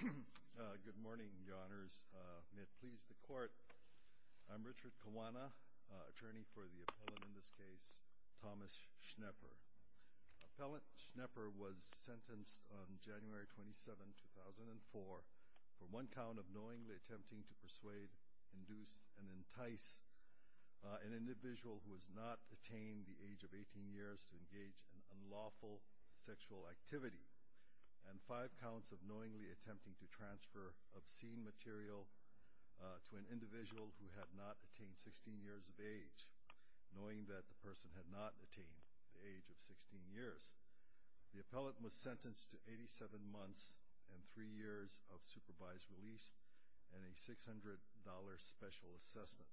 Good morning, Your Honors. May it please the Court, I'm Richard Kawana, attorney for the appellant in this case, Thomas Schnepper. Appellant Schnepper was sentenced on January 27, 2004, for one count of knowingly attempting to persuade, induce, and entice an individual who has not attained the age of 18 years to engage in unlawful sexual activity and five counts of knowingly attempting to transfer obscene material to an individual who had not attained 16 years of age, knowing that the person had not attained the age of 16 years. The appellant was sentenced to 87 months and three years of supervised release and a $600 special assessment.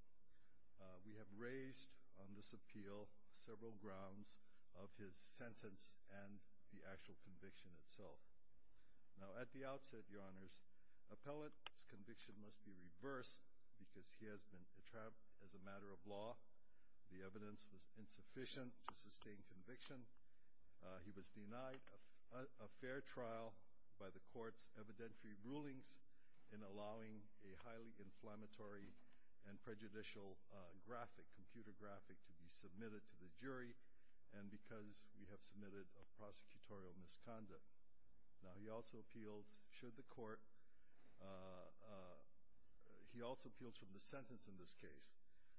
We have raised on this appeal several grounds of his sentence and the actual conviction itself. Now at the outset, Your Honors, appellant's conviction must be reversed because he has been trapped as a matter of law. The evidence was insufficient to sustain conviction. He was denied a fair trial by the court's evidentiary rulings in allowing a highly inflammatory and prejudicial graphic, computer graphic, to be submitted to the jury and because we have submitted a prosecutorial misconduct. Now he also appeals should the court, he also appeals from the sentence in this case,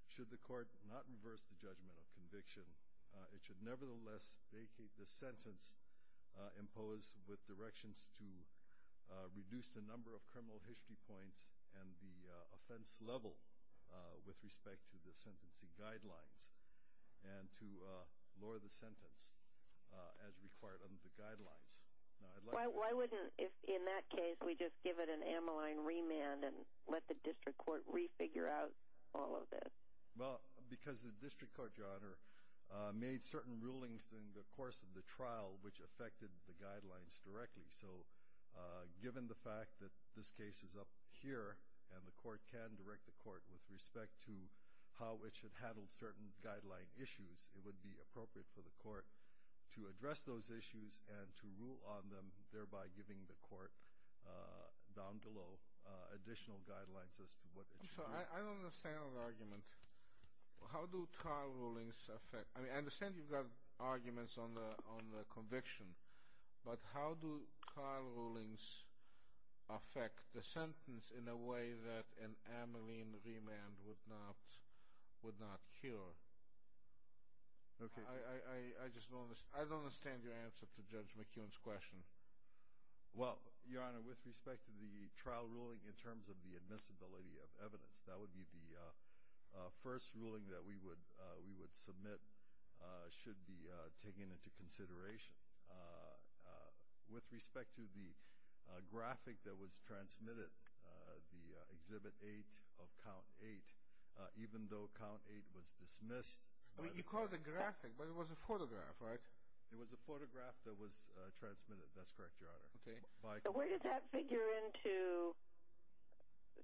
should the court not reverse the judgment of conviction, it should nevertheless vacate the sentence imposed with directions to reduce the number of criminal history points and the offense level with respect to the sentencing guidelines and to lower the sentence as required under the guidelines. Now I'd like to... Why wouldn't if in that case we just give it an amyline remand and let the district court re-figure out all of this? Well, because the district court, Your Honor, made certain rulings during the course of the trial which affected the guidelines directly. So given the fact that this case is up here and the court can direct the court with respect to how it should handle certain guideline issues, it would be appropriate for the court to address those issues and to rule on them, thereby giving the court down below additional guidelines as to what it should do. I'm sorry, I don't understand the argument. How do trial rulings affect... I mean I understand you've got arguments on the conviction, but how do trial rulings affect the sentence in a way that an amyline remand would not cure? I just don't understand your answer to Judge McKeon's question. Well, Your Honor, with respect to the trial ruling in terms of the admissibility of evidence, that would be the first ruling that we would submit should be taken into consideration. With respect to the graphic that was transmitted, the Exhibit 8 of Count 8, even though Count 8 was dismissed... You called it a graphic, but it was a photograph, right? It was a photograph that was transmitted, that's correct, Your Honor. Okay. So where does that figure into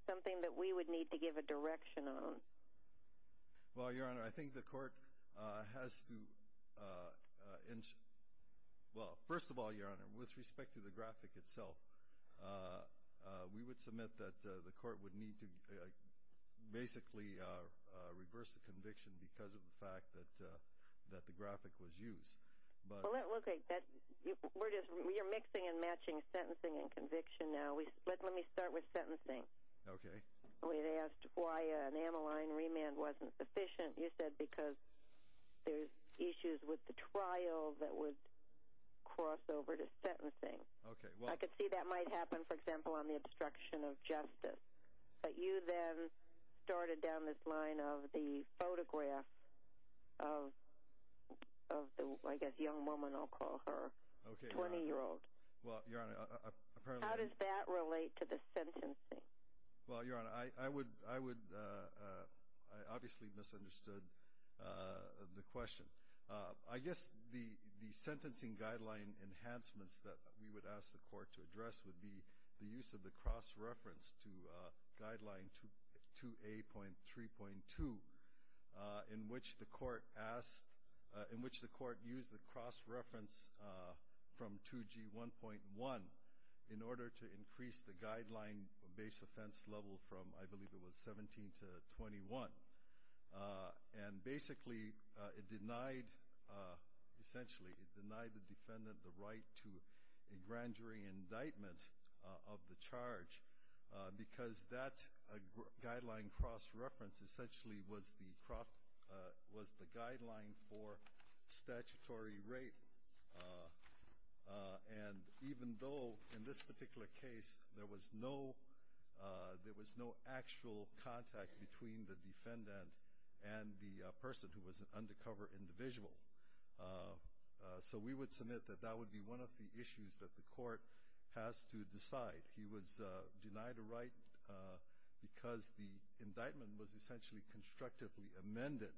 something that we would need to give a direction on? Well, Your Honor, I think the court has to... Well, first of all, Your Honor, with respect to the graphic itself, we would submit that the court would need to basically reverse the conviction because of the fact that the graphic was used. Well, okay, we're mixing and matching sentencing and conviction now. Let me start with sentencing. Okay. We asked why an amyline remand wasn't sufficient. You raised issues with the trial that would cross over to sentencing. Okay, well... I could see that might happen, for example, on the obstruction of justice, but you then started down this line of the photograph of the, I guess, young woman, I'll call her, 20-year-old. Well, Your Honor, apparently... How does that relate to the sentencing? Well, Your Honor, I obviously misunderstood the question. I guess the sentencing guideline enhancements that we would ask the court to address would be the use of the cross-reference to Guideline 2A.3.2, in which the court used the cross-reference from 2G.1.1 in order to increase the guideline base offense level from, I believe it was 17 to 21. And basically, it denied, essentially, it denied the defendant the right to a grand jury indictment of the charge because that guideline cross-reference essentially was the guideline for statutory rape. And even though, in this particular case, there was no actual contact between the defendant and the person who was an undercover individual. So we would submit that that would be one of the issues that the court has to decide. He was denied a right because the indictment was essentially constructively amended.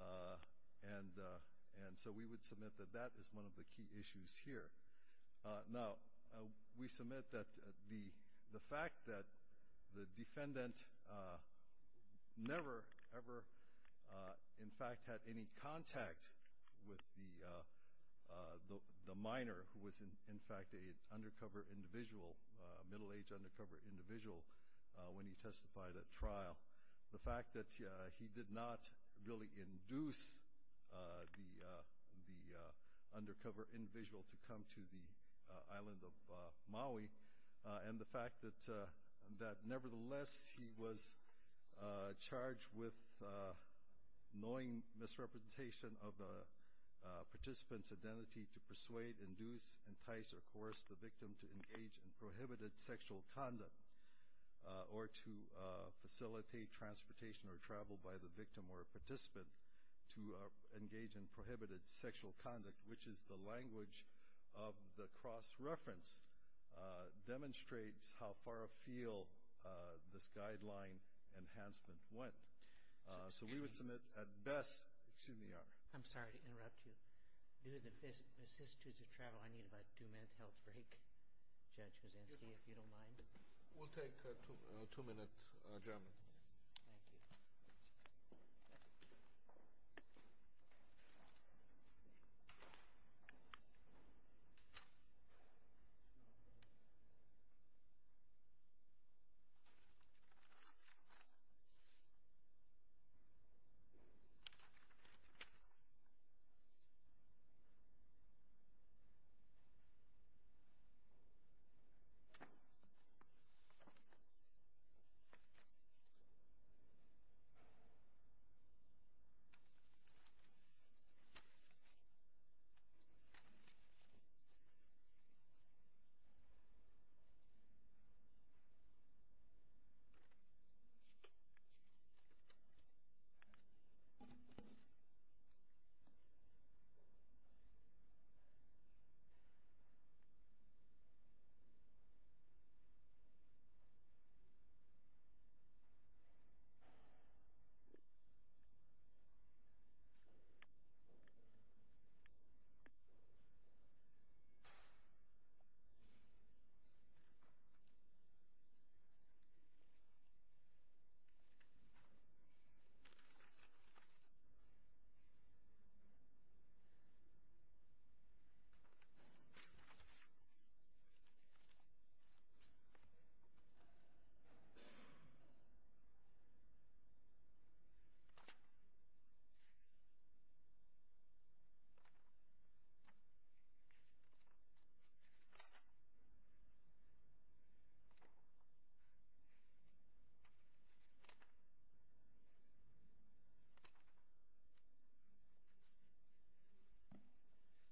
And so we would submit that that is one of the key issues here. Now, we submit that the fact that the defendant never, ever, in fact, had any contact with the minor who was, in fact, an undercover individual, a middle-aged undercover individual, when he testified at trial. The fact that he did not really induce the undercover individual to come to the island of Maui. And the fact that, nevertheless, he was charged with knowing misrepresentation of the participant's identity to persuade, induce, entice, or coerce the victim to engage in prohibited sexual conduct, or to facilitate transportation or travel by the victim or participant to engage in prohibited sexual conduct, which is the language of the cross-reference, demonstrates how far afield this guideline enhancement went. So we would submit, at best, excuse me, Your Honor. I'm sorry to interrupt you. Due to the assistance of travel, I need about two minutes health break. Judge Kuczynski, if you don't mind. We'll take a two-minute adjournment. Thank you. Thank you. Thank you. Thank you. Thank you. Thank you.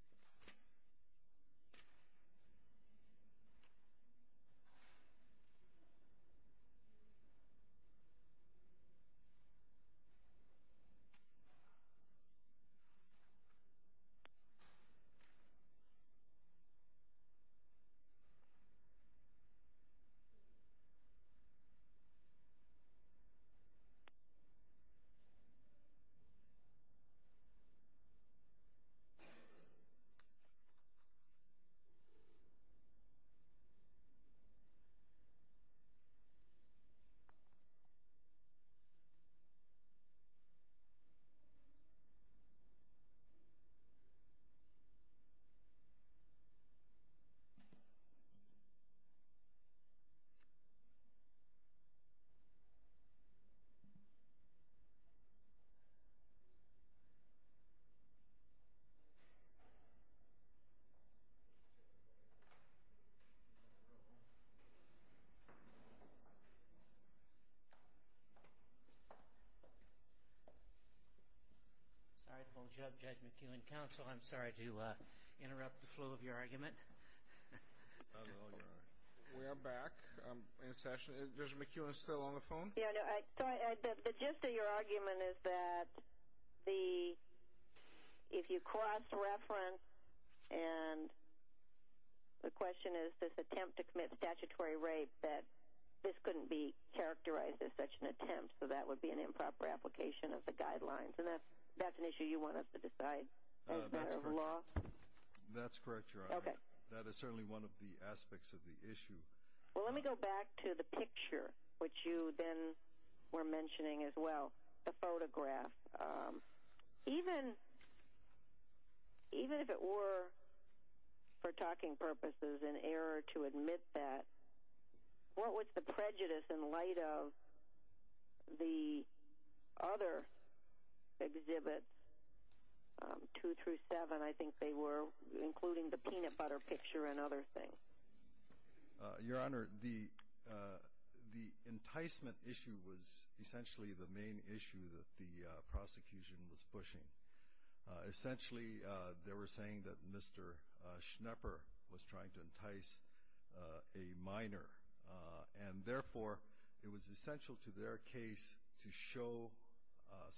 Thank you. Sorry to hold you up, Judge McKeown. Counsel, I'm sorry to interrupt the flow of your argument. No, you're all right. We are back in session. Judge McKeown is still on the phone? The gist of your argument is that if you cross-reference and the question is this attempt to commit statutory rape, that this couldn't be characterized as such an attempt, so that would be an improper application of the guidelines. And that's an issue you want us to decide as a matter of law? That's correct, Your Honor. That is certainly one of the aspects of the issue. Well, let me go back to the picture, which you then were mentioning as well, the photograph. Even if it were, for talking purposes, an error to admit that, what was the prejudice in light of the other exhibits, two through seven, I think they were, including the peanut butter picture and other things? Your Honor, the enticement issue was essentially the main issue that the prosecution was pushing. Essentially, they were saying that Mr. Schnepper was trying to entice a minor, and therefore it was essential to their case to show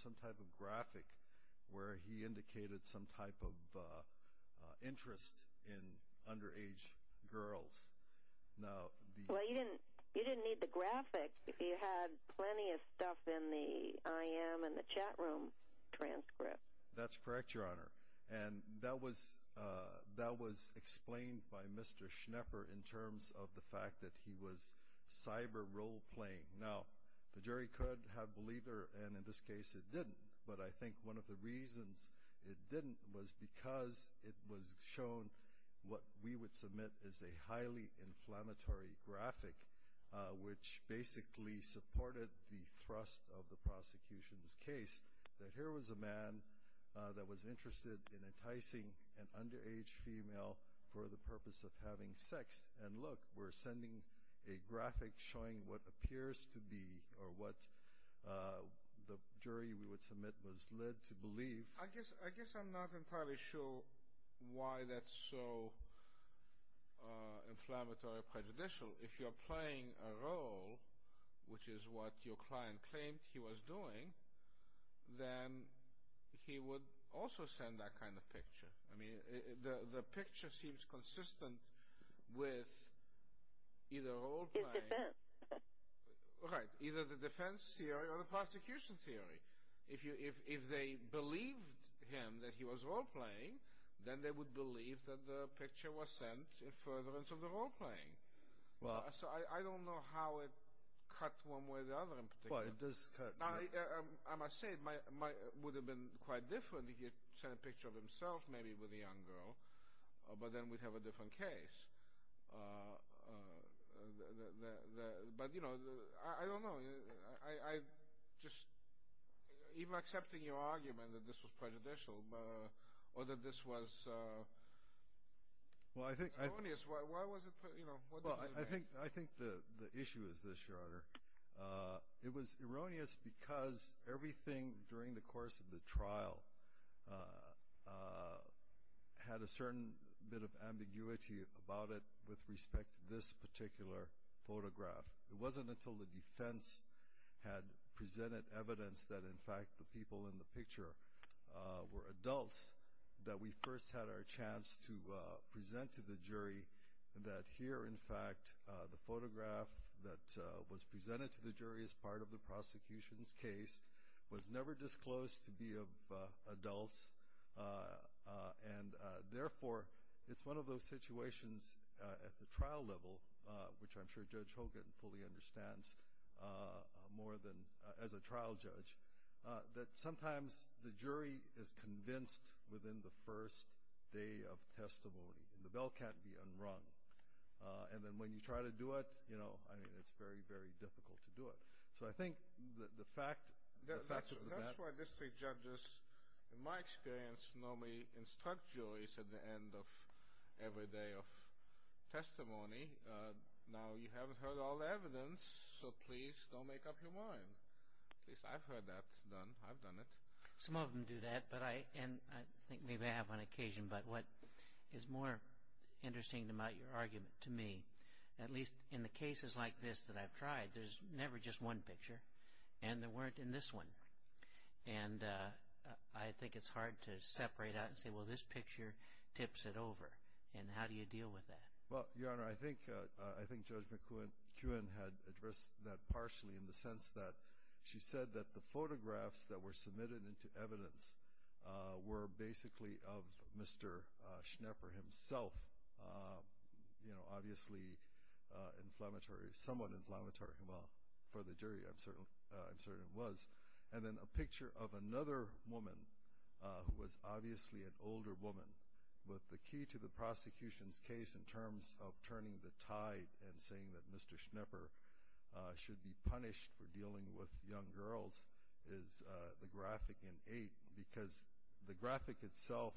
some type of graphic where he indicated some type of interest in underage girls. Well, you didn't need the graphic if you had plenty of stuff in the IM and the chat room transcript. That's correct, Your Honor. And that was explained by Mr. Schnepper in terms of the fact that he was cyber role-playing. Now, the jury could have believed her, and in this case it didn't, but I think one of the reasons it didn't was because it was shown what we would submit as a highly inflammatory graphic, which basically supported the thrust of the prosecution's case, that here was a man that was interested in enticing an underage female for the purpose of having sex, and look, we're sending a graphic showing what appears to be, or what the jury we would submit was led to believe. I guess I'm not entirely sure why that's so inflammatory or prejudicial. If you're playing a role, which is what your client claimed he was doing, then he would also send that kind of picture. The picture seems consistent with either the defense theory or the prosecution theory. If they believed him that he was role-playing, then they would believe that the picture was sent in furtherance of the role-playing. So I don't know how it cuts one way or the other in particular. I must say it would have been quite different if he had sent a picture of himself maybe with a young girl, but then we'd have a different case. But I don't know. Even accepting your argument that this was prejudicial, or that this was erroneous, why was it prejudicial? I think the issue is this, Your Honor. It was erroneous because everything during the course of the trial had a certain bit of ambiguity about it with respect to this particular photograph. It wasn't until the defense had presented evidence that in fact the people in the picture were adults that we first had our chance to present to the jury that here in fact the photograph that was presented to the jury as part of the prosecution's case was never disclosed to be of adults, and therefore it's one of those situations at the trial level, which I'm sure Judge Hogan fully understands more than as a trial judge, that sometimes the jury is convinced within the first day of testimony. The bell can't be unrung. And then when you try to do it, it's very, very difficult to do it. So I think the fact that that's... That's why district judges, in my experience, normally instruct juries at the end of every day of testimony. Now, you haven't heard all the evidence, so please don't make up your mind. At least I've heard that. I've done it. Some of them do that, and I think maybe I have on occasion, but what is more interesting about your argument to me, at least in the cases like this that I've tried, there's never just one picture, and there weren't in this one. And I think it's hard to separate out and say, well, this picture tips it over, and how do you deal with that? Well, Your Honor, I think Judge McKeown had addressed that partially in the sense that she said that the photographs that were submitted into evidence were basically of Mr. Schnepper himself, obviously inflammatory, somewhat inflammatory for the jury. I'm certain it was. And then a picture of another woman, who was obviously an older woman, but the key to the prosecution's case in terms of turning the tide and saying that Mr. Schnepper should be punished for dealing with young girls is the graphic in 8, because the graphic itself,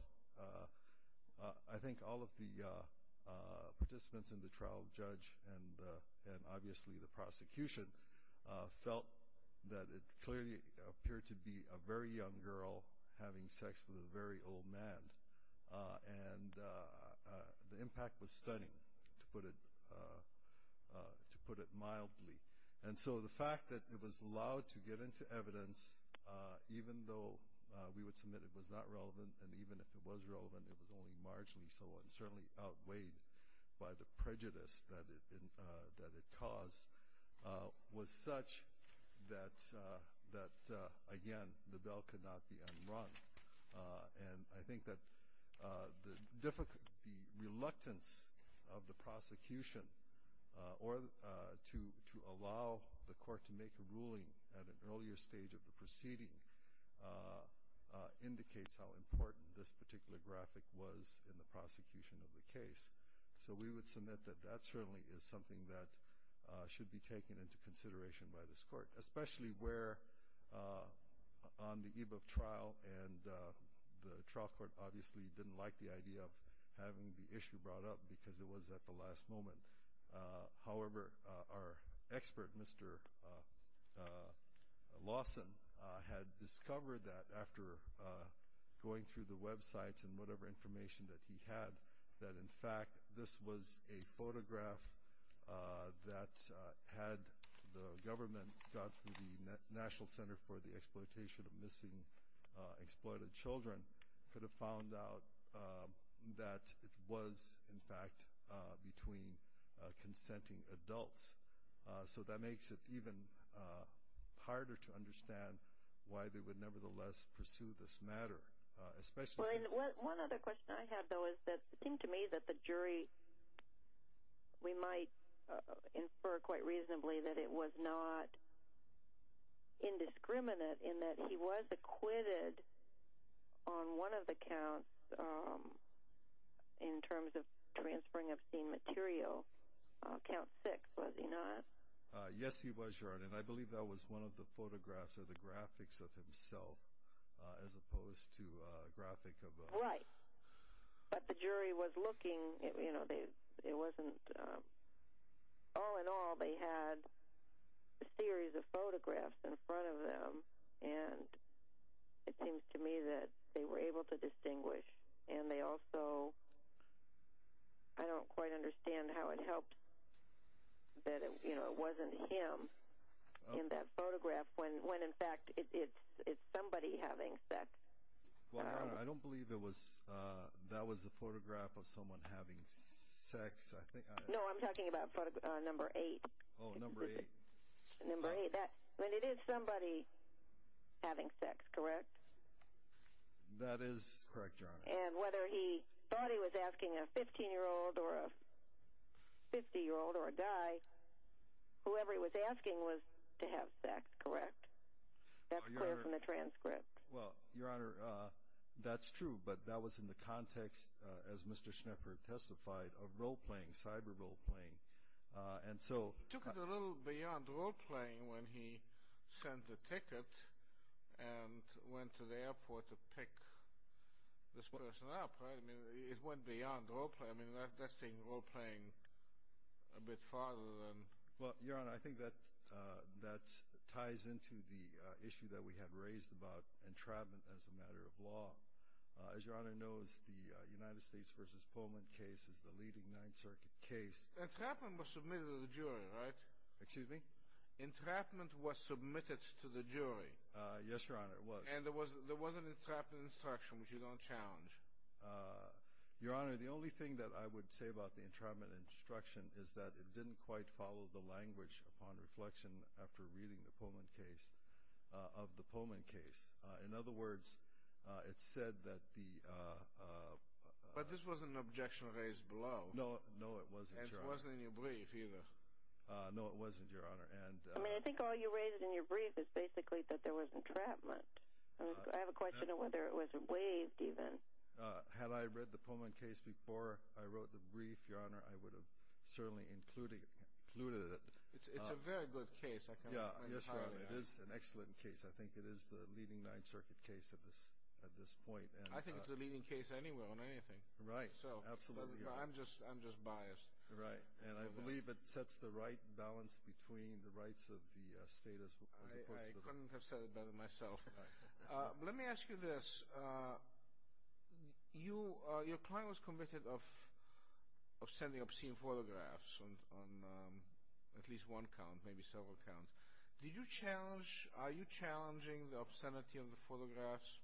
I think all of the participants in the trial, judge, and obviously the prosecution, felt that it clearly appeared to be a very young girl having sex with a very old man. And the impact was stunning, to put it mildly. And so the fact that it was allowed to get into evidence, even though we would submit it was not relevant, and even if it was relevant, it was only marginally so, and certainly outweighed by the prejudice that it caused, was such that, again, the bell could not be unrung. And I think that the reluctance of the prosecution to allow the court to make a ruling at an earlier stage of the proceeding indicates how important this particular graphic was in the prosecution of the case. So we would submit that that certainly is something that should be taken into consideration by this court, especially where on the eve of trial, and the trial court obviously didn't like the idea of having the issue brought up because it was at the last moment. However, our expert, Mr. Lawson, had discovered that after going through the websites and whatever information that he had, that in fact this was a photograph that had the government got through the National Center for the Exploitation of Missing and Exploited Children, could have found out that it was, in fact, between consenting adults. So that makes it even harder to understand why they would nevertheless pursue this matter. One other question I have, though, is that it seemed to me that the jury, we might infer quite reasonably, that it was not indiscriminate in that he was acquitted on one of the counts in terms of transferring obscene material. Count 6, was he not? Yes, he was, Your Honor, and I believe that was one of the photographs or the graphics of himself as opposed to a graphic of... Right, but the jury was looking, you know, it wasn't... All in all, they had a series of photographs in front of them, and it seems to me that they were able to distinguish, and they also, I don't quite understand how it helped that it wasn't him in that photograph, when, in fact, it's somebody having sex. Well, Your Honor, I don't believe that was the photograph of someone having sex. No, I'm talking about number 8. Oh, number 8. Number 8, but it is somebody having sex, correct? That is correct, Your Honor. And whether he thought he was asking a 15-year-old or a 50-year-old or a guy, whoever he was asking was to have sex, correct? That's clear from the transcript. Well, Your Honor, that's true, but that was in the context, as Mr. Schnepper testified, of role-playing, cyber role-playing, and so... It took it a little beyond role-playing when he sent the ticket and went to the airport to pick this person up, right? I mean, it went beyond role-playing. I mean, that's saying role-playing a bit farther than... Well, Your Honor, I think that ties into the issue that we have raised about entrapment as a matter of law. As Your Honor knows, the United States v. Pullman case is the leading Ninth Circuit case. Entrapment was submitted to the jury, right? Excuse me? Entrapment was submitted to the jury. Yes, Your Honor, it was. And there was an entrapment instruction, which you don't challenge. Your Honor, the only thing that I would say about the entrapment instruction is that it didn't quite follow the language upon reflection after reading the Pullman case of the Pullman case. In other words, it said that the... But this wasn't an objection raised below. No, it wasn't, Your Honor. And it wasn't in your brief either. No, it wasn't, Your Honor. I think all you raised in your brief is basically that there was entrapment. I have a question of whether it was waived even. Had I read the Pullman case before I wrote the brief, Your Honor, I would have certainly included it. It's a very good case. Yes, Your Honor, it is an excellent case. I think it is the leading Ninth Circuit case at this point. I think it's the leading case anywhere on anything. Right, absolutely. I'm just biased. Right, and I believe it sets the right balance between the rights of the state as opposed to the... I couldn't have said it better myself. Let me ask you this. Your client was convicted of sending obscene photographs on at least one count, maybe several counts. Did you challenge, are you challenging the obscenity of the photographs?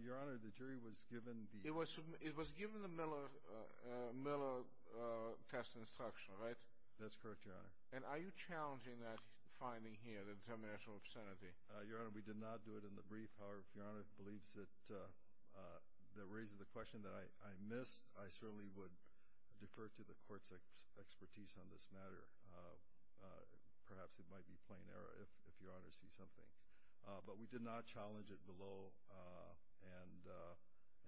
Your Honor, the jury was given the... Miller test instruction, right? That's correct, Your Honor. And are you challenging that finding here, the determination of obscenity? Your Honor, we did not do it in the brief. However, if Your Honor believes that it raises the question that I missed, I certainly would defer to the Court's expertise on this matter. Perhaps it might be plain error if Your Honor sees something. But we did not challenge it below.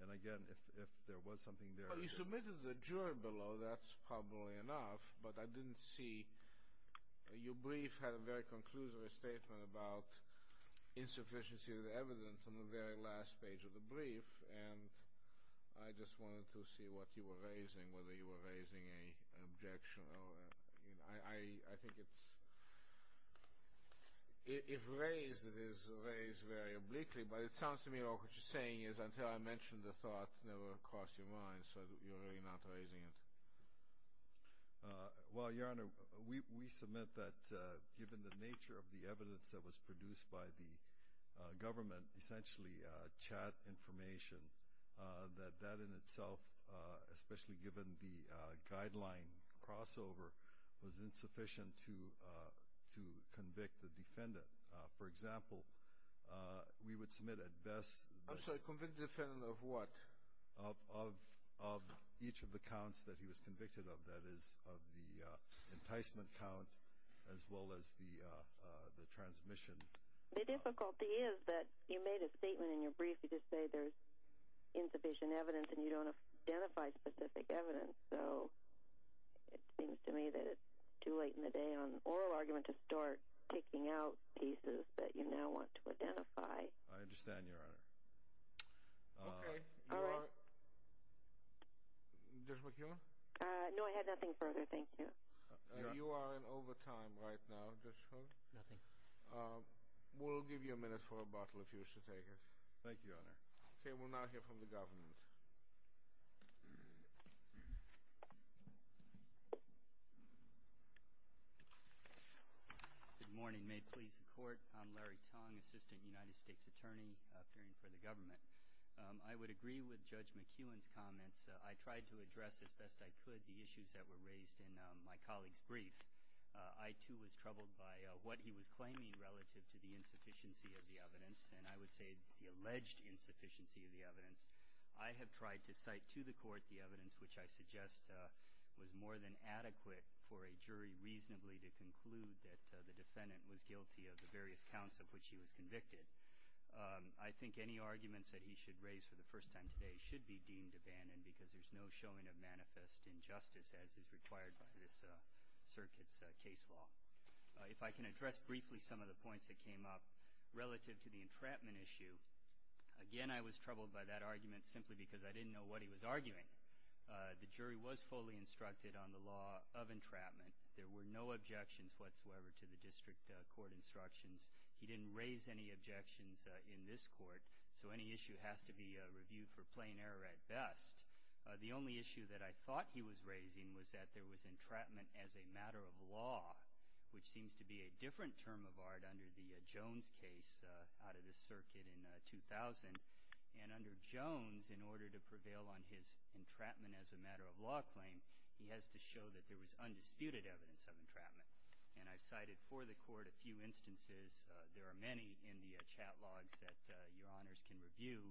And, again, if there was something there... Well, you submitted to the jury below, that's probably enough, but I didn't see your brief had a very conclusive statement about insufficiency of evidence on the very last page of the brief, and I just wanted to see what you were raising, whether you were raising an objection or... I think it's... If raised, it is raised very obliquely, but it sounds to me like what you're saying is until I mention the thought, it will never cross your mind, so you're really not raising it. Well, Your Honor, we submit that given the nature of the evidence that was produced by the government, essentially chat information, that that in itself, especially given the guideline crossover, was insufficient to convict the defendant. For example, we would submit at best... I'm sorry, convict the defendant of what? Of each of the counts that he was convicted of, that is, of the enticement count as well as the transmission. The difficulty is that you made a statement in your brief, you just say there's insufficient evidence and you don't identify specific evidence, so it seems to me that it's too late in the day on an oral argument I understand, Your Honor. Okay, all right. Judge McEwen? No, I had nothing further, thank you. You are in overtime right now, Judge Schultz. Nothing. We'll give you a minute for a bottle if you wish to take it. Thank you, Your Honor. Okay, we'll now hear from the government. Good morning. May it please the Court, I'm Larry Tong, Assistant United States Attorney, appearing for the government. I would agree with Judge McEwen's comments. I tried to address as best I could the issues that were raised in my colleague's brief. I, too, was troubled by what he was claiming relative to the insufficiency of the evidence, and I would say the alleged insufficiency of the evidence. I have tried to cite to the Court the evidence which I suggest was more than adequate for a jury reasonably to conclude that the defendant was guilty of the various counts of which he was convicted. I think any arguments that he should raise for the first time today should be deemed abandoned because there's no showing of manifest injustice as is required by this circuit's case law. If I can address briefly some of the points that came up relative to the entrapment issue, again, I was troubled by that argument simply because I didn't know what he was arguing. The jury was fully instructed on the law of entrapment. There were no objections whatsoever to the district court instructions. He didn't raise any objections in this court, so any issue has to be reviewed for plain error at best. The only issue that I thought he was raising was that there was entrapment as a matter of law, which seems to be a different term of art under the Jones case out of the circuit in 2000. And under Jones, in order to prevail on his entrapment as a matter of law claim, he has to show that there was undisputed evidence of entrapment. And I've cited for the Court a few instances. There are many in the chat logs that Your Honors can review,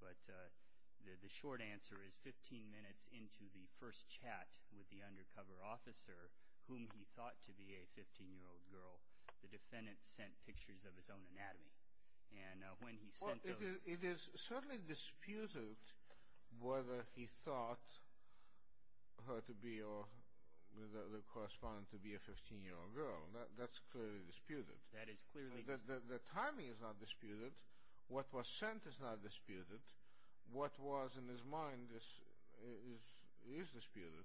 but the short answer is 15 minutes into the first chat with the undercover officer, whom he thought to be a 15-year-old girl, the defendant sent pictures of his own anatomy. And when he sent those… Well, it is certainly disputed whether he thought her to be or the other correspondent to be a 15-year-old girl. That's clearly disputed. That is clearly… The timing is not disputed. What was sent is not disputed. What was in his mind is disputed.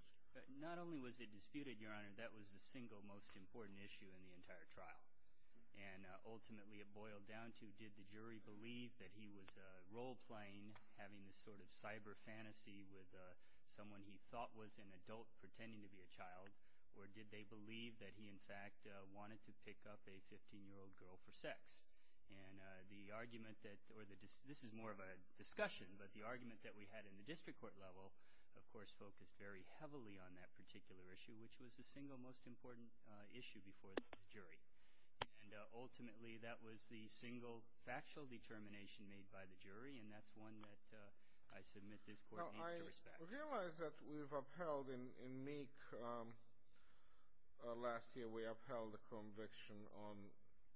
Not only was it disputed, Your Honor, that was the single most important issue in the entire trial. And ultimately it boiled down to did the jury believe that he was role-playing, having this sort of cyber fantasy with someone he thought was an adult pretending to be a child, or did they believe that he, in fact, wanted to pick up a 15-year-old girl for sex. And the argument that – or this is more of a discussion, but the argument that we had in the district court level, of course, focused very heavily on that particular issue, which was the single most important issue before the jury. And ultimately that was the single factual determination made by the jury, and that's one that I submit this Court needs to respect. Well, I realize that we've upheld in Meek last year, we upheld the conviction on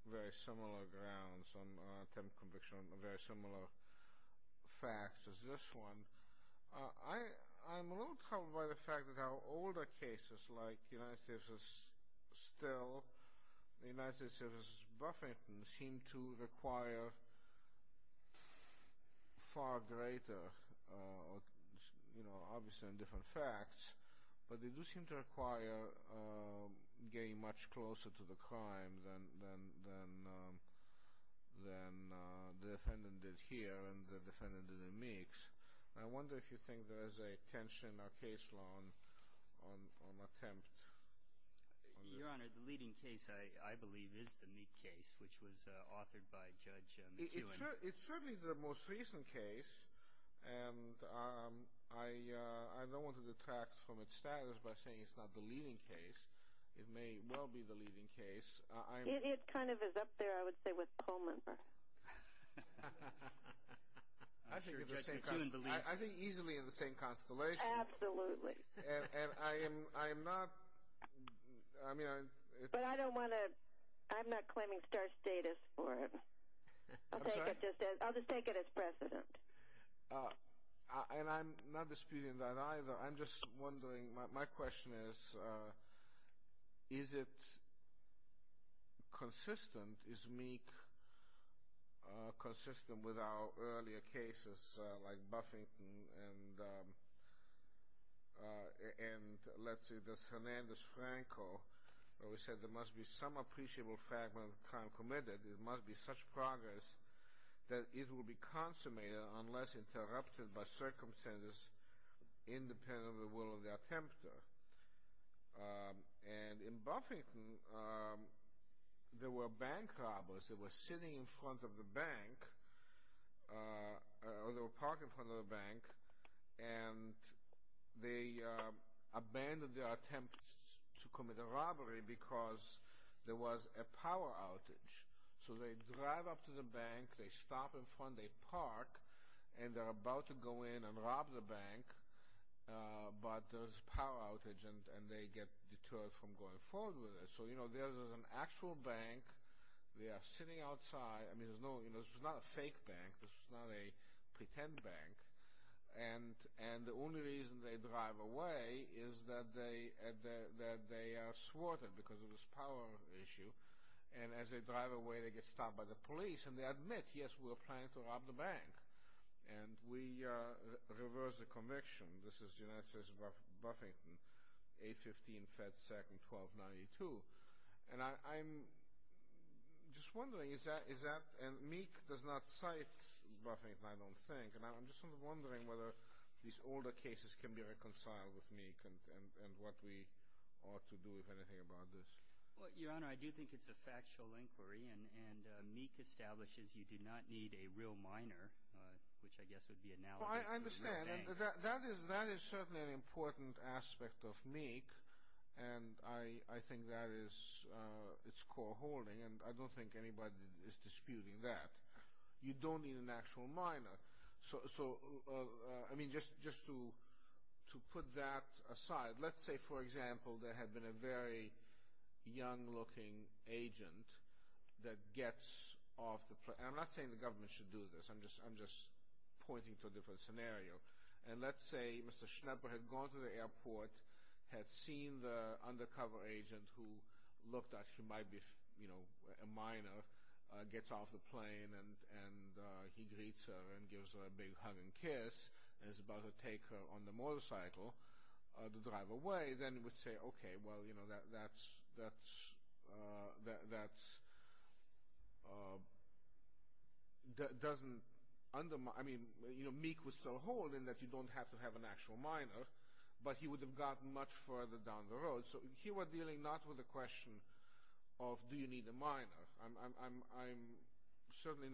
very similar grounds, on an attempted conviction on very similar facts as this one. I'm a little troubled by the fact that our older cases, like United States v. Still, United States v. Buffington, seem to require far greater, you know, obviously on different facts, but they do seem to require getting much closer to the crime than the defendant did here and the defendant did in Meeks. I wonder if you think there is a tension or case law on attempt. Your Honor, the leading case, I believe, is the Meek case, which was authored by Judge McEwen. It's certainly the most recent case, and I don't want to detract from its status by saying it's not the leading case. It may well be the leading case. It kind of is up there, I would say, with Pullman. I think easily in the same constellation. Absolutely. And I am not, I mean, But I don't want to, I'm not claiming star status for it. I'm sorry? I'll just take it as precedent. And I'm not disputing that either. I'm just wondering, my question is, is it consistent, is Meek consistent with our earlier cases, like Buffington and, let's see, where we said there must be some appreciable fragment of the crime committed, there must be such progress that it will be consummated unless interrupted by circumstances independent of the will of the attempter. And in Buffington, there were bank robbers that were sitting in front of the bank, or they were parking in front of the bank, and they abandoned their attempt to commit a robbery because there was a power outage. So they drive up to the bank, they stop in front, they park, and they're about to go in and rob the bank, but there's a power outage and they get deterred from going forward with it. So, you know, there's an actual bank, they are sitting outside, I mean, this is not a fake bank, this is not a pretend bank, and the only reason they drive away is that they are thwarted because of this power issue, and as they drive away, they get stopped by the police, and they admit, yes, we were planning to rob the bank, and we reversed the conviction. This is the United States of Buffington, 815 Fed Second, 1292. And I'm just wondering, is that, and Meek does not cite Buffington, I don't think, and I'm just sort of wondering whether these older cases can be reconciled with Meek and what we ought to do, if anything, about this. Well, Your Honor, I do think it's a factual inquiry, and Meek establishes you do not need a real minor, which I guess would be analogous to a real bank. Well, I understand, and that is certainly an important aspect of Meek, and I think that is its core holding, and I don't think anybody is disputing that. You don't need an actual minor. So, I mean, just to put that aside, let's say, for example, there had been a very young-looking agent that gets off the plane, and I'm not saying the government should do this, I'm just pointing to a different scenario, and let's say Mr. Schnepper had gone to the airport, had seen the undercover agent who looked like he might be a minor, gets off the plane, and he greets her and gives her a big hug and kiss, and is about to take her on the motorcycle to drive away, and they then would say, okay, well, you know, that doesn't undermine, I mean, you know, Meek would still hold in that you don't have to have an actual minor, but he would have gotten much further down the road. So here we're dealing not with a question of do you need a minor. I'm questioning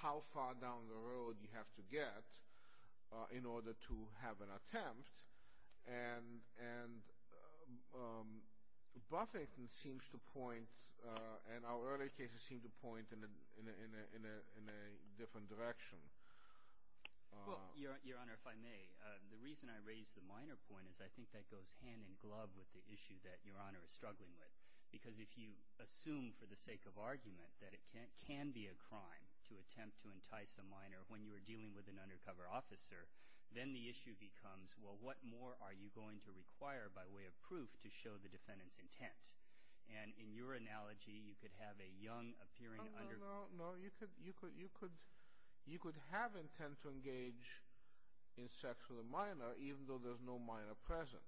how far down the road you have to get in order to have an attempt, and Buffington seems to point, and our earlier cases seem to point in a different direction. Well, Your Honor, if I may, the reason I raise the minor point is I think that goes hand in glove with the issue that Your Honor is struggling with, because if you assume for the sake of argument that it can be a crime to attempt to entice a minor when you are dealing with an undercover officer, then the issue becomes, well, what more are you going to require by way of proof to show the defendant's intent? And in your analogy, you could have a young, appearing under- No, no, no. You could have intent to engage in sex with a minor even though there's no minor present.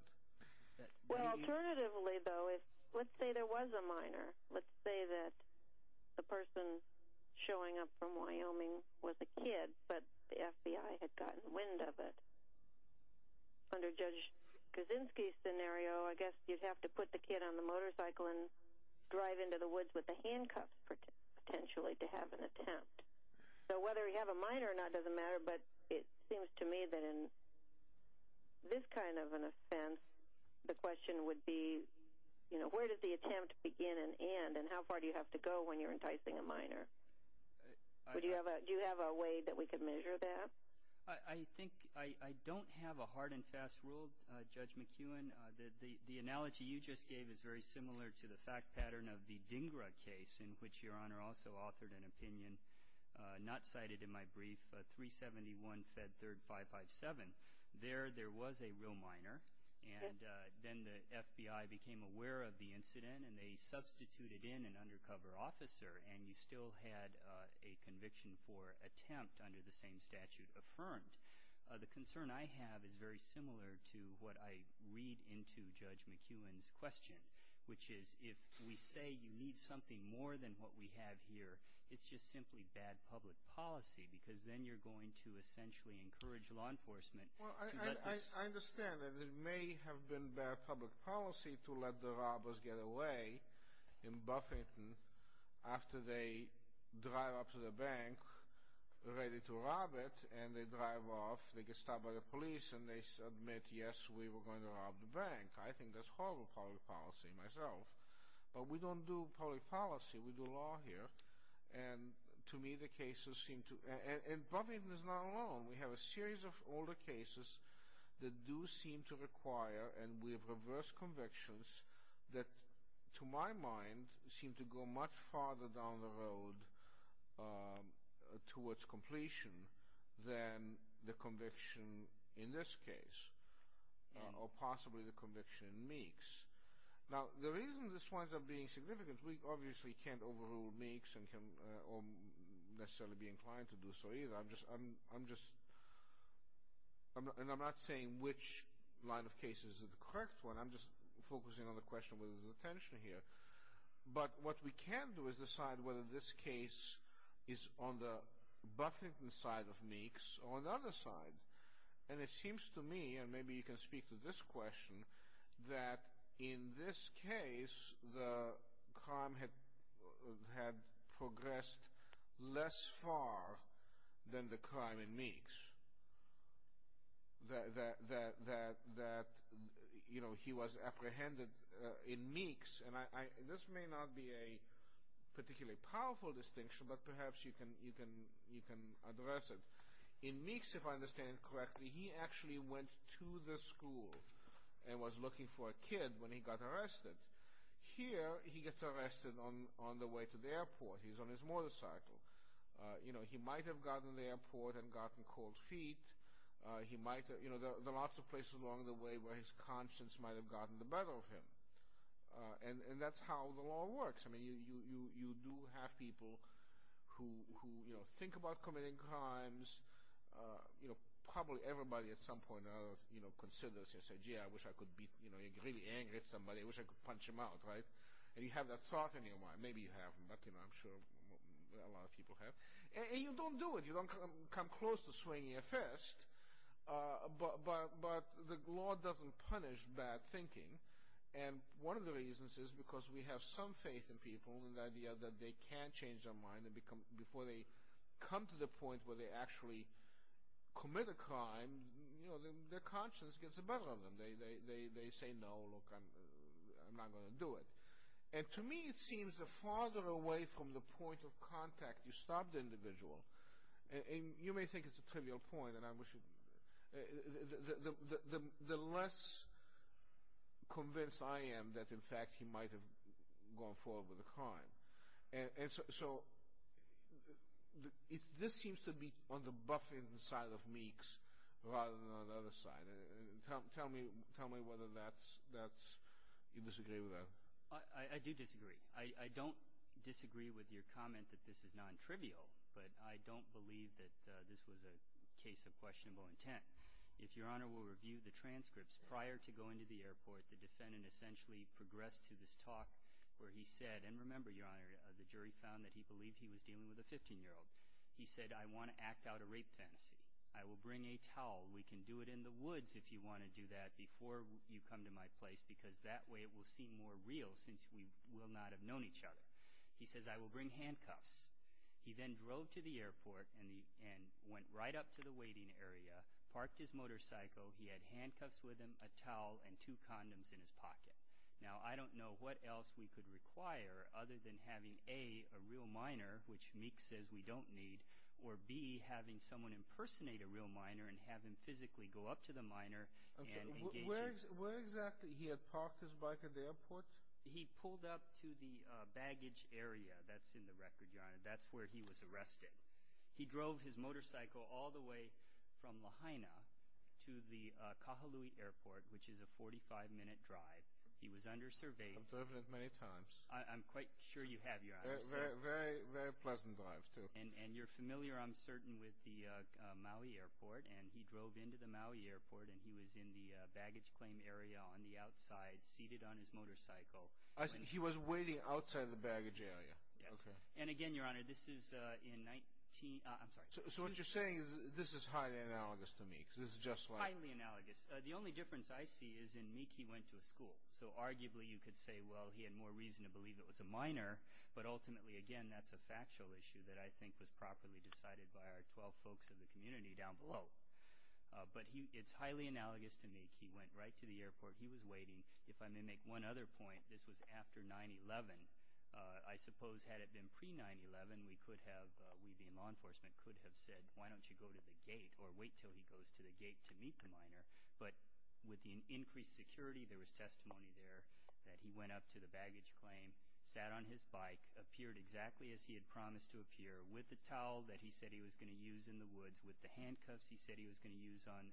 Well, alternatively, though, let's say there was a minor. Let's say that the person showing up from Wyoming was a kid, but the FBI had gotten wind of it. Under Judge Kaczynski's scenario, I guess you'd have to put the kid on the motorcycle and drive into the woods with the handcuffs potentially to have an attempt. So whether you have a minor or not doesn't matter, but it seems to me that in this kind of an offense, the question would be, you know, where does the attempt begin and end, and how far do you have to go when you're enticing a minor? Do you have a way that we could measure that? I think I don't have a hard and fast rule, Judge McKeown. The analogy you just gave is very similar to the fact pattern of the Dhingra case in which Your Honor also authored an opinion not cited in my brief, 371 Fed 3rd 557. There, there was a real minor, and then the FBI became aware of the incident, and they substituted in an undercover officer, and you still had a conviction for attempt under the same statute affirmed. The concern I have is very similar to what I read into Judge McKeown's question, which is if we say you need something more than what we have here, it's just simply bad public policy because then you're going to essentially encourage law enforcement. Well, I understand that it may have been bad public policy to let the robbers get away in Buffington after they drive up to the bank ready to rob it, and they drive off. They get stopped by the police, and they admit, yes, we were going to rob the bank. I think that's horrible public policy myself, but we don't do public policy. We do law here, and to me the cases seem to, and Buffington is not alone. We have a series of older cases that do seem to require, and we have reversed convictions that to my mind seem to go much farther down the road towards completion than the conviction in this case or possibly the conviction in Meeks. Now, the reason this winds up being significant, we obviously can't overrule Meeks or necessarily be inclined to do so either, and I'm not saying which line of cases is the correct one. I'm just focusing on the question of whether there's a tension here, but what we can do is decide whether this case is on the Buffington side of Meeks or on the other side, and it seems to me, and maybe you can speak to this question, that in this case the crime had progressed less far than the crime in Meeks, that he was apprehended in Meeks, and this may not be a particularly powerful distinction, but perhaps you can address it. In Meeks, if I understand correctly, he actually went to the school and was looking for a kid when he got arrested. Here, he gets arrested on the way to the airport. He's on his motorcycle. He might have gotten to the airport and gotten cold feet. There are lots of places along the way where his conscience might have gotten the better of him, and that's how the law works. I mean, you do have people who think about committing crimes. Probably everybody at some point or another considers and says, gee, I wish I could be really angry at somebody. I wish I could punch him out, right? And you have that thought in your mind. Maybe you haven't, but I'm sure a lot of people have. And you don't do it. You don't come close to swinging a fist, but the law doesn't punish bad thinking, and one of the reasons is because we have some faith in people and the idea that they can change their mind and before they come to the point where they actually commit a crime, their conscience gets the better of them. They say, no, look, I'm not going to do it. And to me, it seems the farther away from the point of contact you stop the individual, and you may think it's a trivial point, the less convinced I am that, in fact, he might have gone forward with a crime. And so this seems to be on the buffing side of Meeks rather than on the other side. Tell me whether you disagree with that. I do disagree. I don't disagree with your comment that this is nontrivial, but I don't believe that this was a case of questionable intent. If Your Honor will review the transcripts, prior to going to the airport, the defendant essentially progressed to this talk where he said, and remember, Your Honor, the jury found that he believed he was dealing with a 15-year-old. He said, I want to act out a rape fantasy. I will bring a towel. We can do it in the woods if you want to do that before you come to my place because that way it will seem more real since we will not have known each other. He says, I will bring handcuffs. He then drove to the airport and went right up to the waiting area, parked his motorcycle, he had handcuffs with him, a towel, and two condoms in his pocket. Now, I don't know what else we could require other than having, A, a real minor, which Meeks says we don't need, or, B, having someone impersonate a real minor and have him physically go up to the minor and engage him. Where exactly he had parked his bike at the airport? He pulled up to the baggage area. That's in the record, Your Honor. That's where he was arrested. He drove his motorcycle all the way from Lahaina to the Kahului Airport, which is a 45-minute drive. He was undersurveyed. I've driven it many times. I'm quite sure you have, Your Honor. Very pleasant drives, too. And you're familiar, I'm certain, with the Maui Airport. And he drove into the Maui Airport, and he was in the baggage claim area on the outside, seated on his motorcycle. He was waiting outside the baggage area. Yes. And again, Your Honor, this is in 19—I'm sorry. So what you're saying is this is highly analogous to Meeks. This is just like— Highly analogous. The only difference I see is in Meeks he went to a school, so arguably you could say, well, he had more reason to believe it was a minor, but ultimately, again, that's a factual issue that I think was properly decided by our 12 folks in the community down below. But it's highly analogous to Meeks. He went right to the airport. He was waiting. If I may make one other point, this was after 9-11. I suppose had it been pre-9-11, we could have, we being law enforcement, could have said, why don't you go to the gate or wait until he goes to the gate to meet the minor. But with the increased security, there was testimony there that he went up to the baggage claim, sat on his bike, appeared exactly as he had promised to appear, with the towel that he said he was going to use in the woods, with the handcuffs he said he was going to use on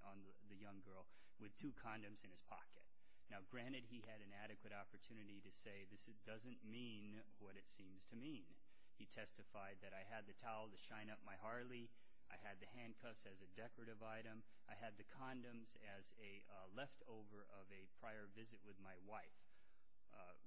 the young girl, with two condoms in his pocket. Now, granted, he had an adequate opportunity to say, this doesn't mean what it seems to mean. He testified that I had the towel to shine up my Harley. I had the handcuffs as a decorative item. I had the condoms as a leftover of a prior visit with my wife.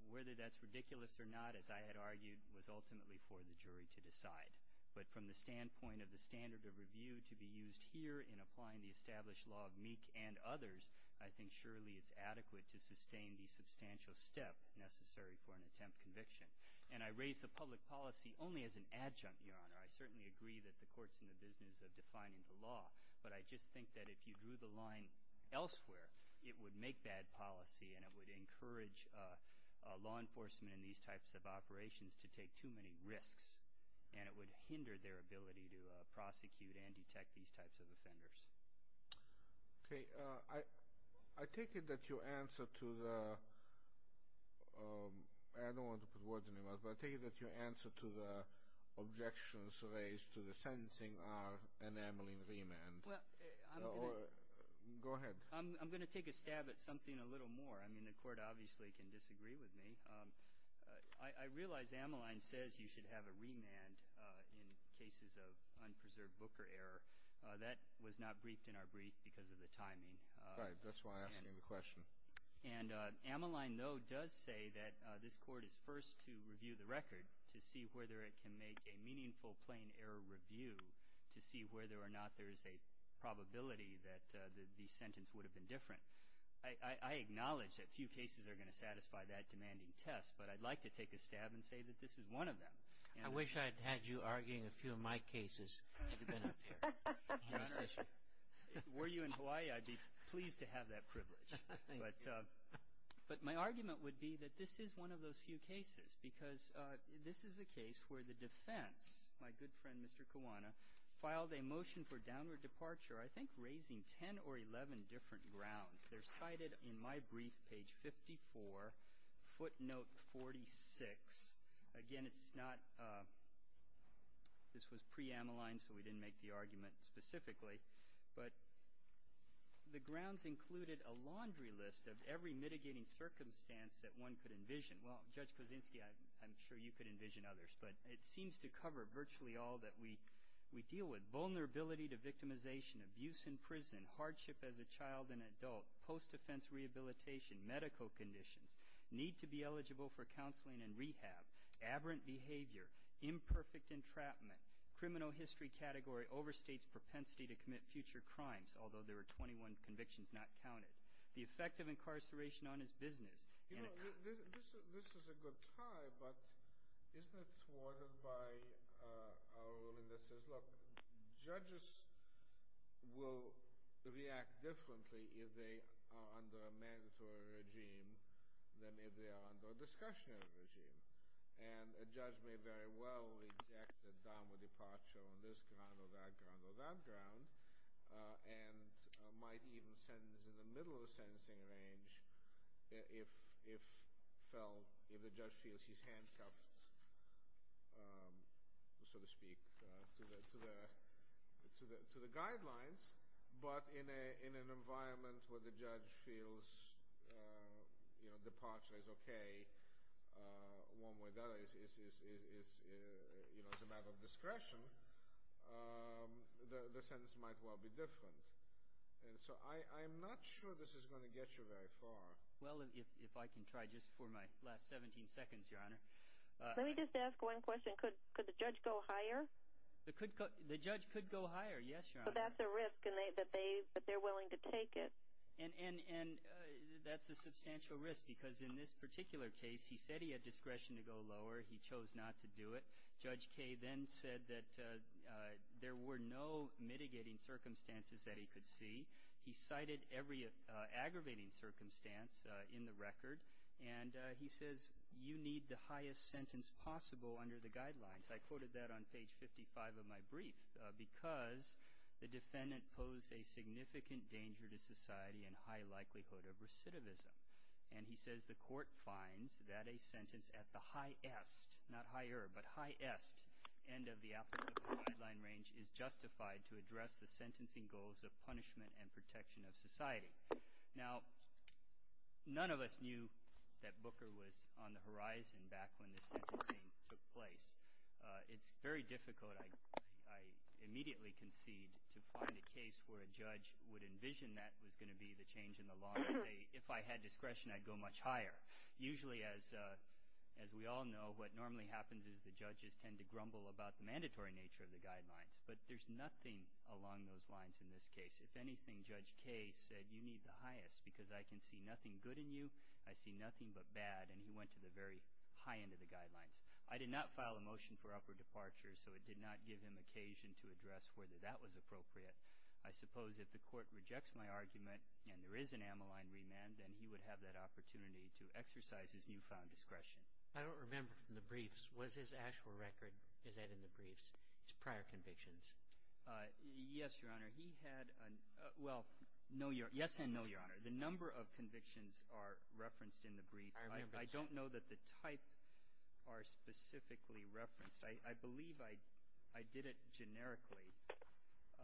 Whether that's ridiculous or not, as I had argued, was ultimately for the jury to decide. But from the standpoint of the standard of review to be used here in applying the established law of Meek and others, I think surely it's adequate to sustain the substantial step necessary for an attempt conviction. And I raise the public policy only as an adjunct, Your Honor. I certainly agree that the court's in the business of defining the law. But I just think that if you drew the line elsewhere, it would make bad policy and it would encourage law enforcement in these types of operations to take too many risks. And it would hinder their ability to prosecute and detect these types of offenders. Okay. I take it that your answer to the – I don't want to put words in your mouth, but I take it that your answer to the objections raised to the sentencing are enameling remand. Well, I'm going to – Go ahead. I'm going to take a stab at something a little more. I mean, the court obviously can disagree with me. I realize Amaline says you should have a remand in cases of unpreserved booker error. That was not briefed in our brief because of the timing. Right. That's why I asked you the question. And Amaline, though, does say that this court is first to review the record to see whether it can make a meaningful plain error review to see whether or not there is a probability that the sentence would have been different. I acknowledge that few cases are going to satisfy that demanding test, but I'd like to take a stab and say that this is one of them. I wish I had had you arguing a few of my cases. I would have been up here. Were you in Hawaii, I'd be pleased to have that privilege. But my argument would be that this is one of those few cases because this is a case where the defense, my good friend Mr. Kiwana, filed a motion for downward departure I think raising 10 or 11 different grounds. They're cited in my brief, page 54, footnote 46. Again, it's not this was pre-Amaline so we didn't make the argument specifically, but the grounds included a laundry list of every mitigating circumstance that one could envision. Well, Judge Kozinski, I'm sure you could envision others, but it seems to cover virtually all that we deal with. Vulnerability to victimization, abuse in prison, hardship as a child and adult, post-defense rehabilitation, medical conditions, need to be eligible for counseling and rehab, aberrant behavior, imperfect entrapment, criminal history category overstates propensity to commit future crimes, although there are 21 convictions not counted, the effect of incarceration on his business. You know, this is a good tie, but isn't it thwarted by our ruling that says, look, judges will react differently if they are under a mandatory regime than if they are under a discretionary regime. And a judge may very well reject a downward departure on this ground or that ground or that ground and might even sentence in the middle of the sentencing range if the judge feels he's handcuffed, so to speak, to the guidelines, but in an environment where the judge feels, you know, departure is okay, one way or the other it's a matter of discretion, the sentence might well be different. And so I'm not sure this is going to get you very far. Well, if I can try just for my last 17 seconds, Your Honor. Let me just ask one question. Could the judge go higher? The judge could go higher, yes, Your Honor. So that's a risk, but they're willing to take it? And that's a substantial risk because in this particular case he said he had discretion to go lower. He chose not to do it. Judge Kaye then said that there were no mitigating circumstances that he could see. He cited every aggravating circumstance in the record, and he says you need the highest sentence possible under the guidelines. I quoted that on page 55 of my brief because the defendant posed a significant danger to society and high likelihood of recidivism. And he says the court finds that a sentence at the highest, not higher, but highest end of the applicable guideline range is justified to address the sentencing goals of punishment and protection of society. Now, none of us knew that Booker was on the horizon back when the sentencing took place. It's very difficult, I immediately concede, to find a case where a judge would envision that was going to be the change in the law and say if I had discretion I'd go much higher. Usually, as we all know, what normally happens is the judges tend to grumble about the mandatory nature of the guidelines. But there's nothing along those lines in this case. If anything, Judge Kaye said you need the highest because I can see nothing good in you, I see nothing but bad, and he went to the very high end of the guidelines. I did not file a motion for upward departure, so it did not give him occasion to address whether that was appropriate. I suppose if the court rejects my argument and there is an amyline remand, then he would have that opportunity to exercise his newfound discretion. I don't remember from the briefs. Was his actual record, is that in the briefs, his prior convictions? Yes, Your Honor. He had, well, no, Your Honor, yes and no, Your Honor. The number of convictions are referenced in the brief. I don't know that the type are specifically referenced. I believe I did it generically.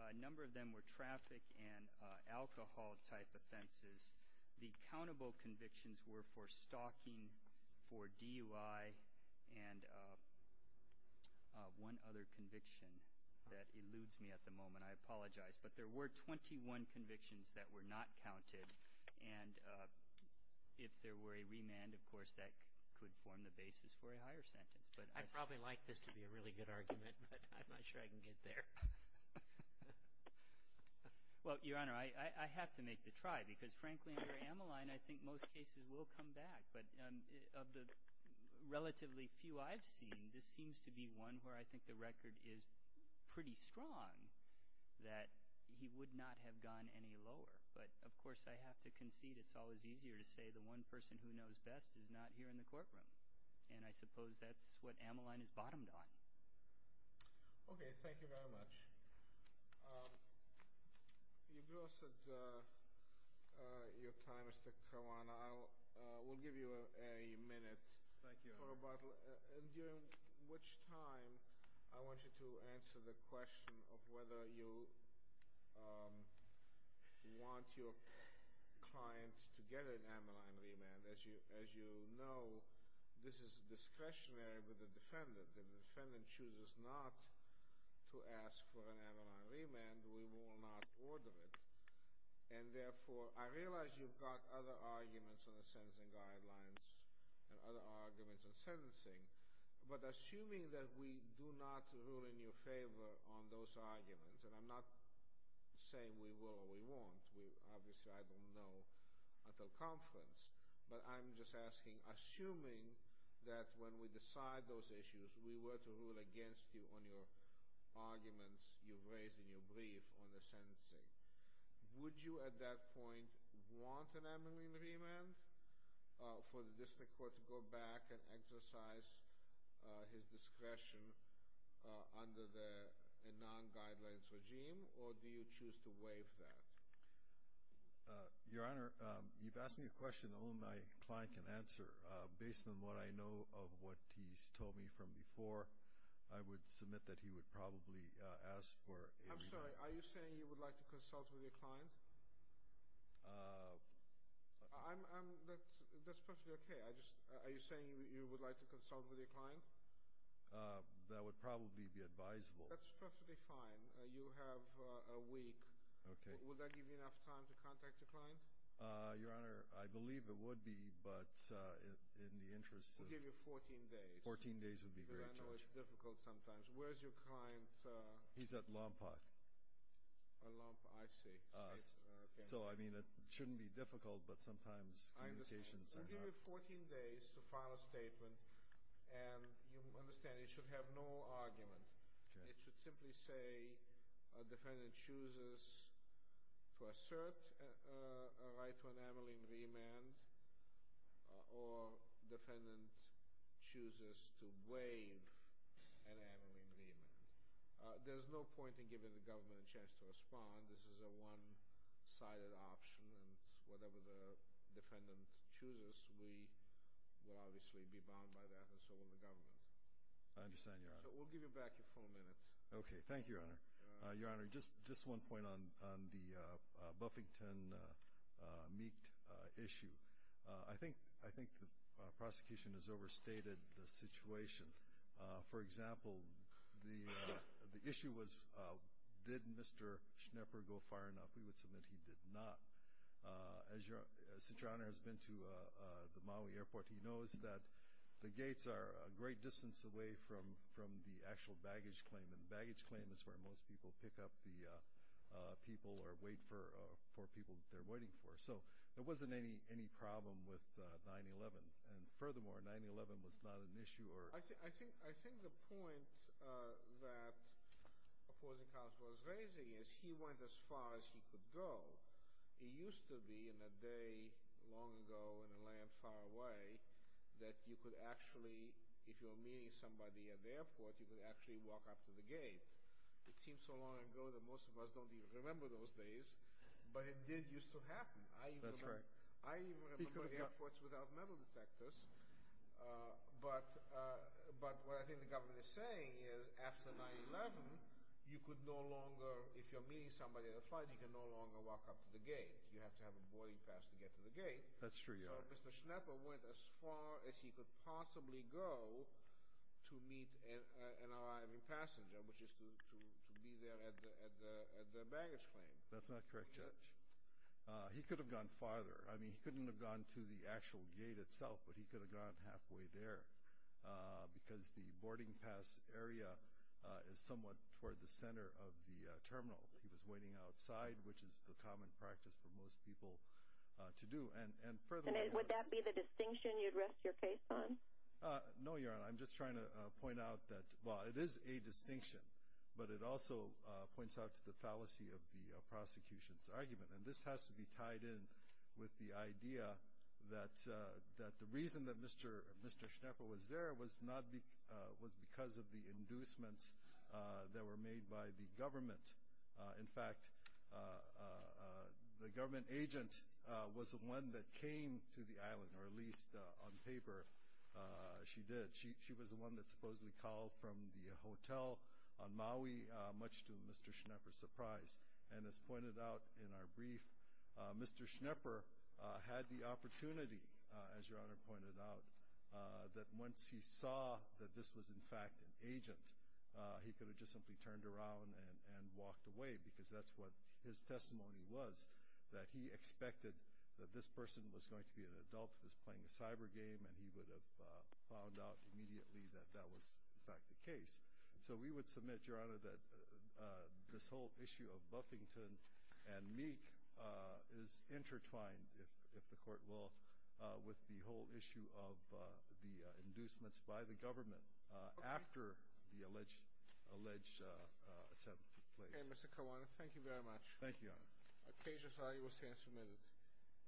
A number of them were traffic and alcohol-type offenses. The accountable convictions were for stalking, for DUI, and one other conviction that eludes me at the moment. I apologize. But there were 21 convictions that were not counted. And if there were a remand, of course, that could form the basis for a higher sentence. I'd probably like this to be a really good argument, but I'm not sure I can get there. Well, Your Honor, I have to make the try because, frankly, under amyline, I think most cases will come back. But of the relatively few I've seen, this seems to be one where I think the record is pretty strong that he would not have gone any lower. But, of course, I have to concede it's always easier to say the one person who knows best is not here in the courtroom. And I suppose that's what amyline is bottomed on. Okay. Thank you very much. You've lost your time, Mr. Caruana. We'll give you a minute. Thank you, Your Honor. During which time, I want you to answer the question of whether you want your client to get an amyline remand. As you know, this is discretionary with the defendant. If the defendant chooses not to ask for an amyline remand, we will not order it. And, therefore, I realize you've got other arguments on the sentencing guidelines and other arguments on sentencing. But assuming that we do not rule in your favor on those arguments, and I'm not saying we will or we won't. Obviously, I don't know until conference. But I'm just asking, assuming that when we decide those issues, we were to rule against you on your arguments you've raised in your brief on the sentencing, would you at that point want an amyline remand for the district court to go back and exercise his discretion under the non-guidelines regime, or do you choose to waive that? Your Honor, you've asked me a question only my client can answer. Based on what I know of what he's told me from before, I would submit that he would probably ask for amyline. I'm sorry. Are you saying you would like to consult with your client? That's perfectly okay. Are you saying you would like to consult with your client? That would probably be advisable. That's perfectly fine. You have a week. Okay. Would that give you enough time to contact your client? Your Honor, I believe it would be, but in the interest of— It would give you 14 days. Fourteen days would be great. I know it's difficult sometimes. Where is your client? He's at Lompoc. At Lompoc, I see. So, I mean, it shouldn't be difficult, but sometimes communications are not— I understand. It would give you 14 days to file a statement, and you understand it should have no argument. Okay. It should simply say a defendant chooses to assert a right to an amyline remand, or defendant chooses to waive an amyline remand. There's no point in giving the government a chance to respond. This is a one-sided option, and whatever the defendant chooses, we will obviously be bound by that, and so will the government. I understand, Your Honor. We'll give you back your four minutes. Okay. Thank you, Your Honor. Your Honor, just one point on the Buffington Meekt issue. I think the prosecution has overstated the situation. For example, the issue was did Mr. Schnepper go far enough. We would submit he did not. Since Your Honor has been to the Maui Airport, he knows that the gates are a great distance away from the actual baggage claim, and the baggage claim is where most people pick up the people or wait for people that they're waiting for. So there wasn't any problem with 9-11, and furthermore, 9-11 was not an issue. I think the point that opposing counsel was raising is he went as far as he could go. It used to be in a day long ago in a land far away that you could actually, if you were meeting somebody at the airport, you could actually walk up to the gate. It seems so long ago that most of us don't even remember those days, but it did used to happen. That's right. I even remember airports without metal detectors, but what I think the government is saying is after 9-11, you could no longer, if you're meeting somebody on a flight, you can no longer walk up to the gate. You have to have a boarding pass to get to the gate. That's true, Your Honor. So Mr. Schnepper went as far as he could possibly go to meet an arriving passenger, which is to be there at the baggage claim. That's not correct, Your Honor. He could have gone farther. I mean, he couldn't have gone to the actual gate itself, but he could have gone halfway there because the boarding pass area is somewhat toward the center of the terminal. He was waiting outside, which is the common practice for most people to do. And furthermore, Would that be the distinction you'd rest your case on? No, Your Honor. I'm just trying to point out that, well, it is a distinction, and this has to be tied in with the idea that the reason that Mr. Schnepper was there was because of the inducements that were made by the government. In fact, the government agent was the one that came to the island, or at least on paper she did. She was the one that supposedly called from the hotel on Maui, much to Mr. Schnepper's surprise. And as pointed out in our brief, Mr. Schnepper had the opportunity, as Your Honor pointed out, that once he saw that this was, in fact, an agent, he could have just simply turned around and walked away because that's what his testimony was, that he expected that this person was going to be an adult that was playing a cyber game, and he would have found out immediately that that was, in fact, the case. So we would submit, Your Honor, that this whole issue of Buffington and Meek is intertwined, if the Court will, with the whole issue of the inducements by the government after the alleged attempt took place. Okay, Mr. Kawanis, thank you very much. Thank you, Your Honor. The case is now your stand submitted.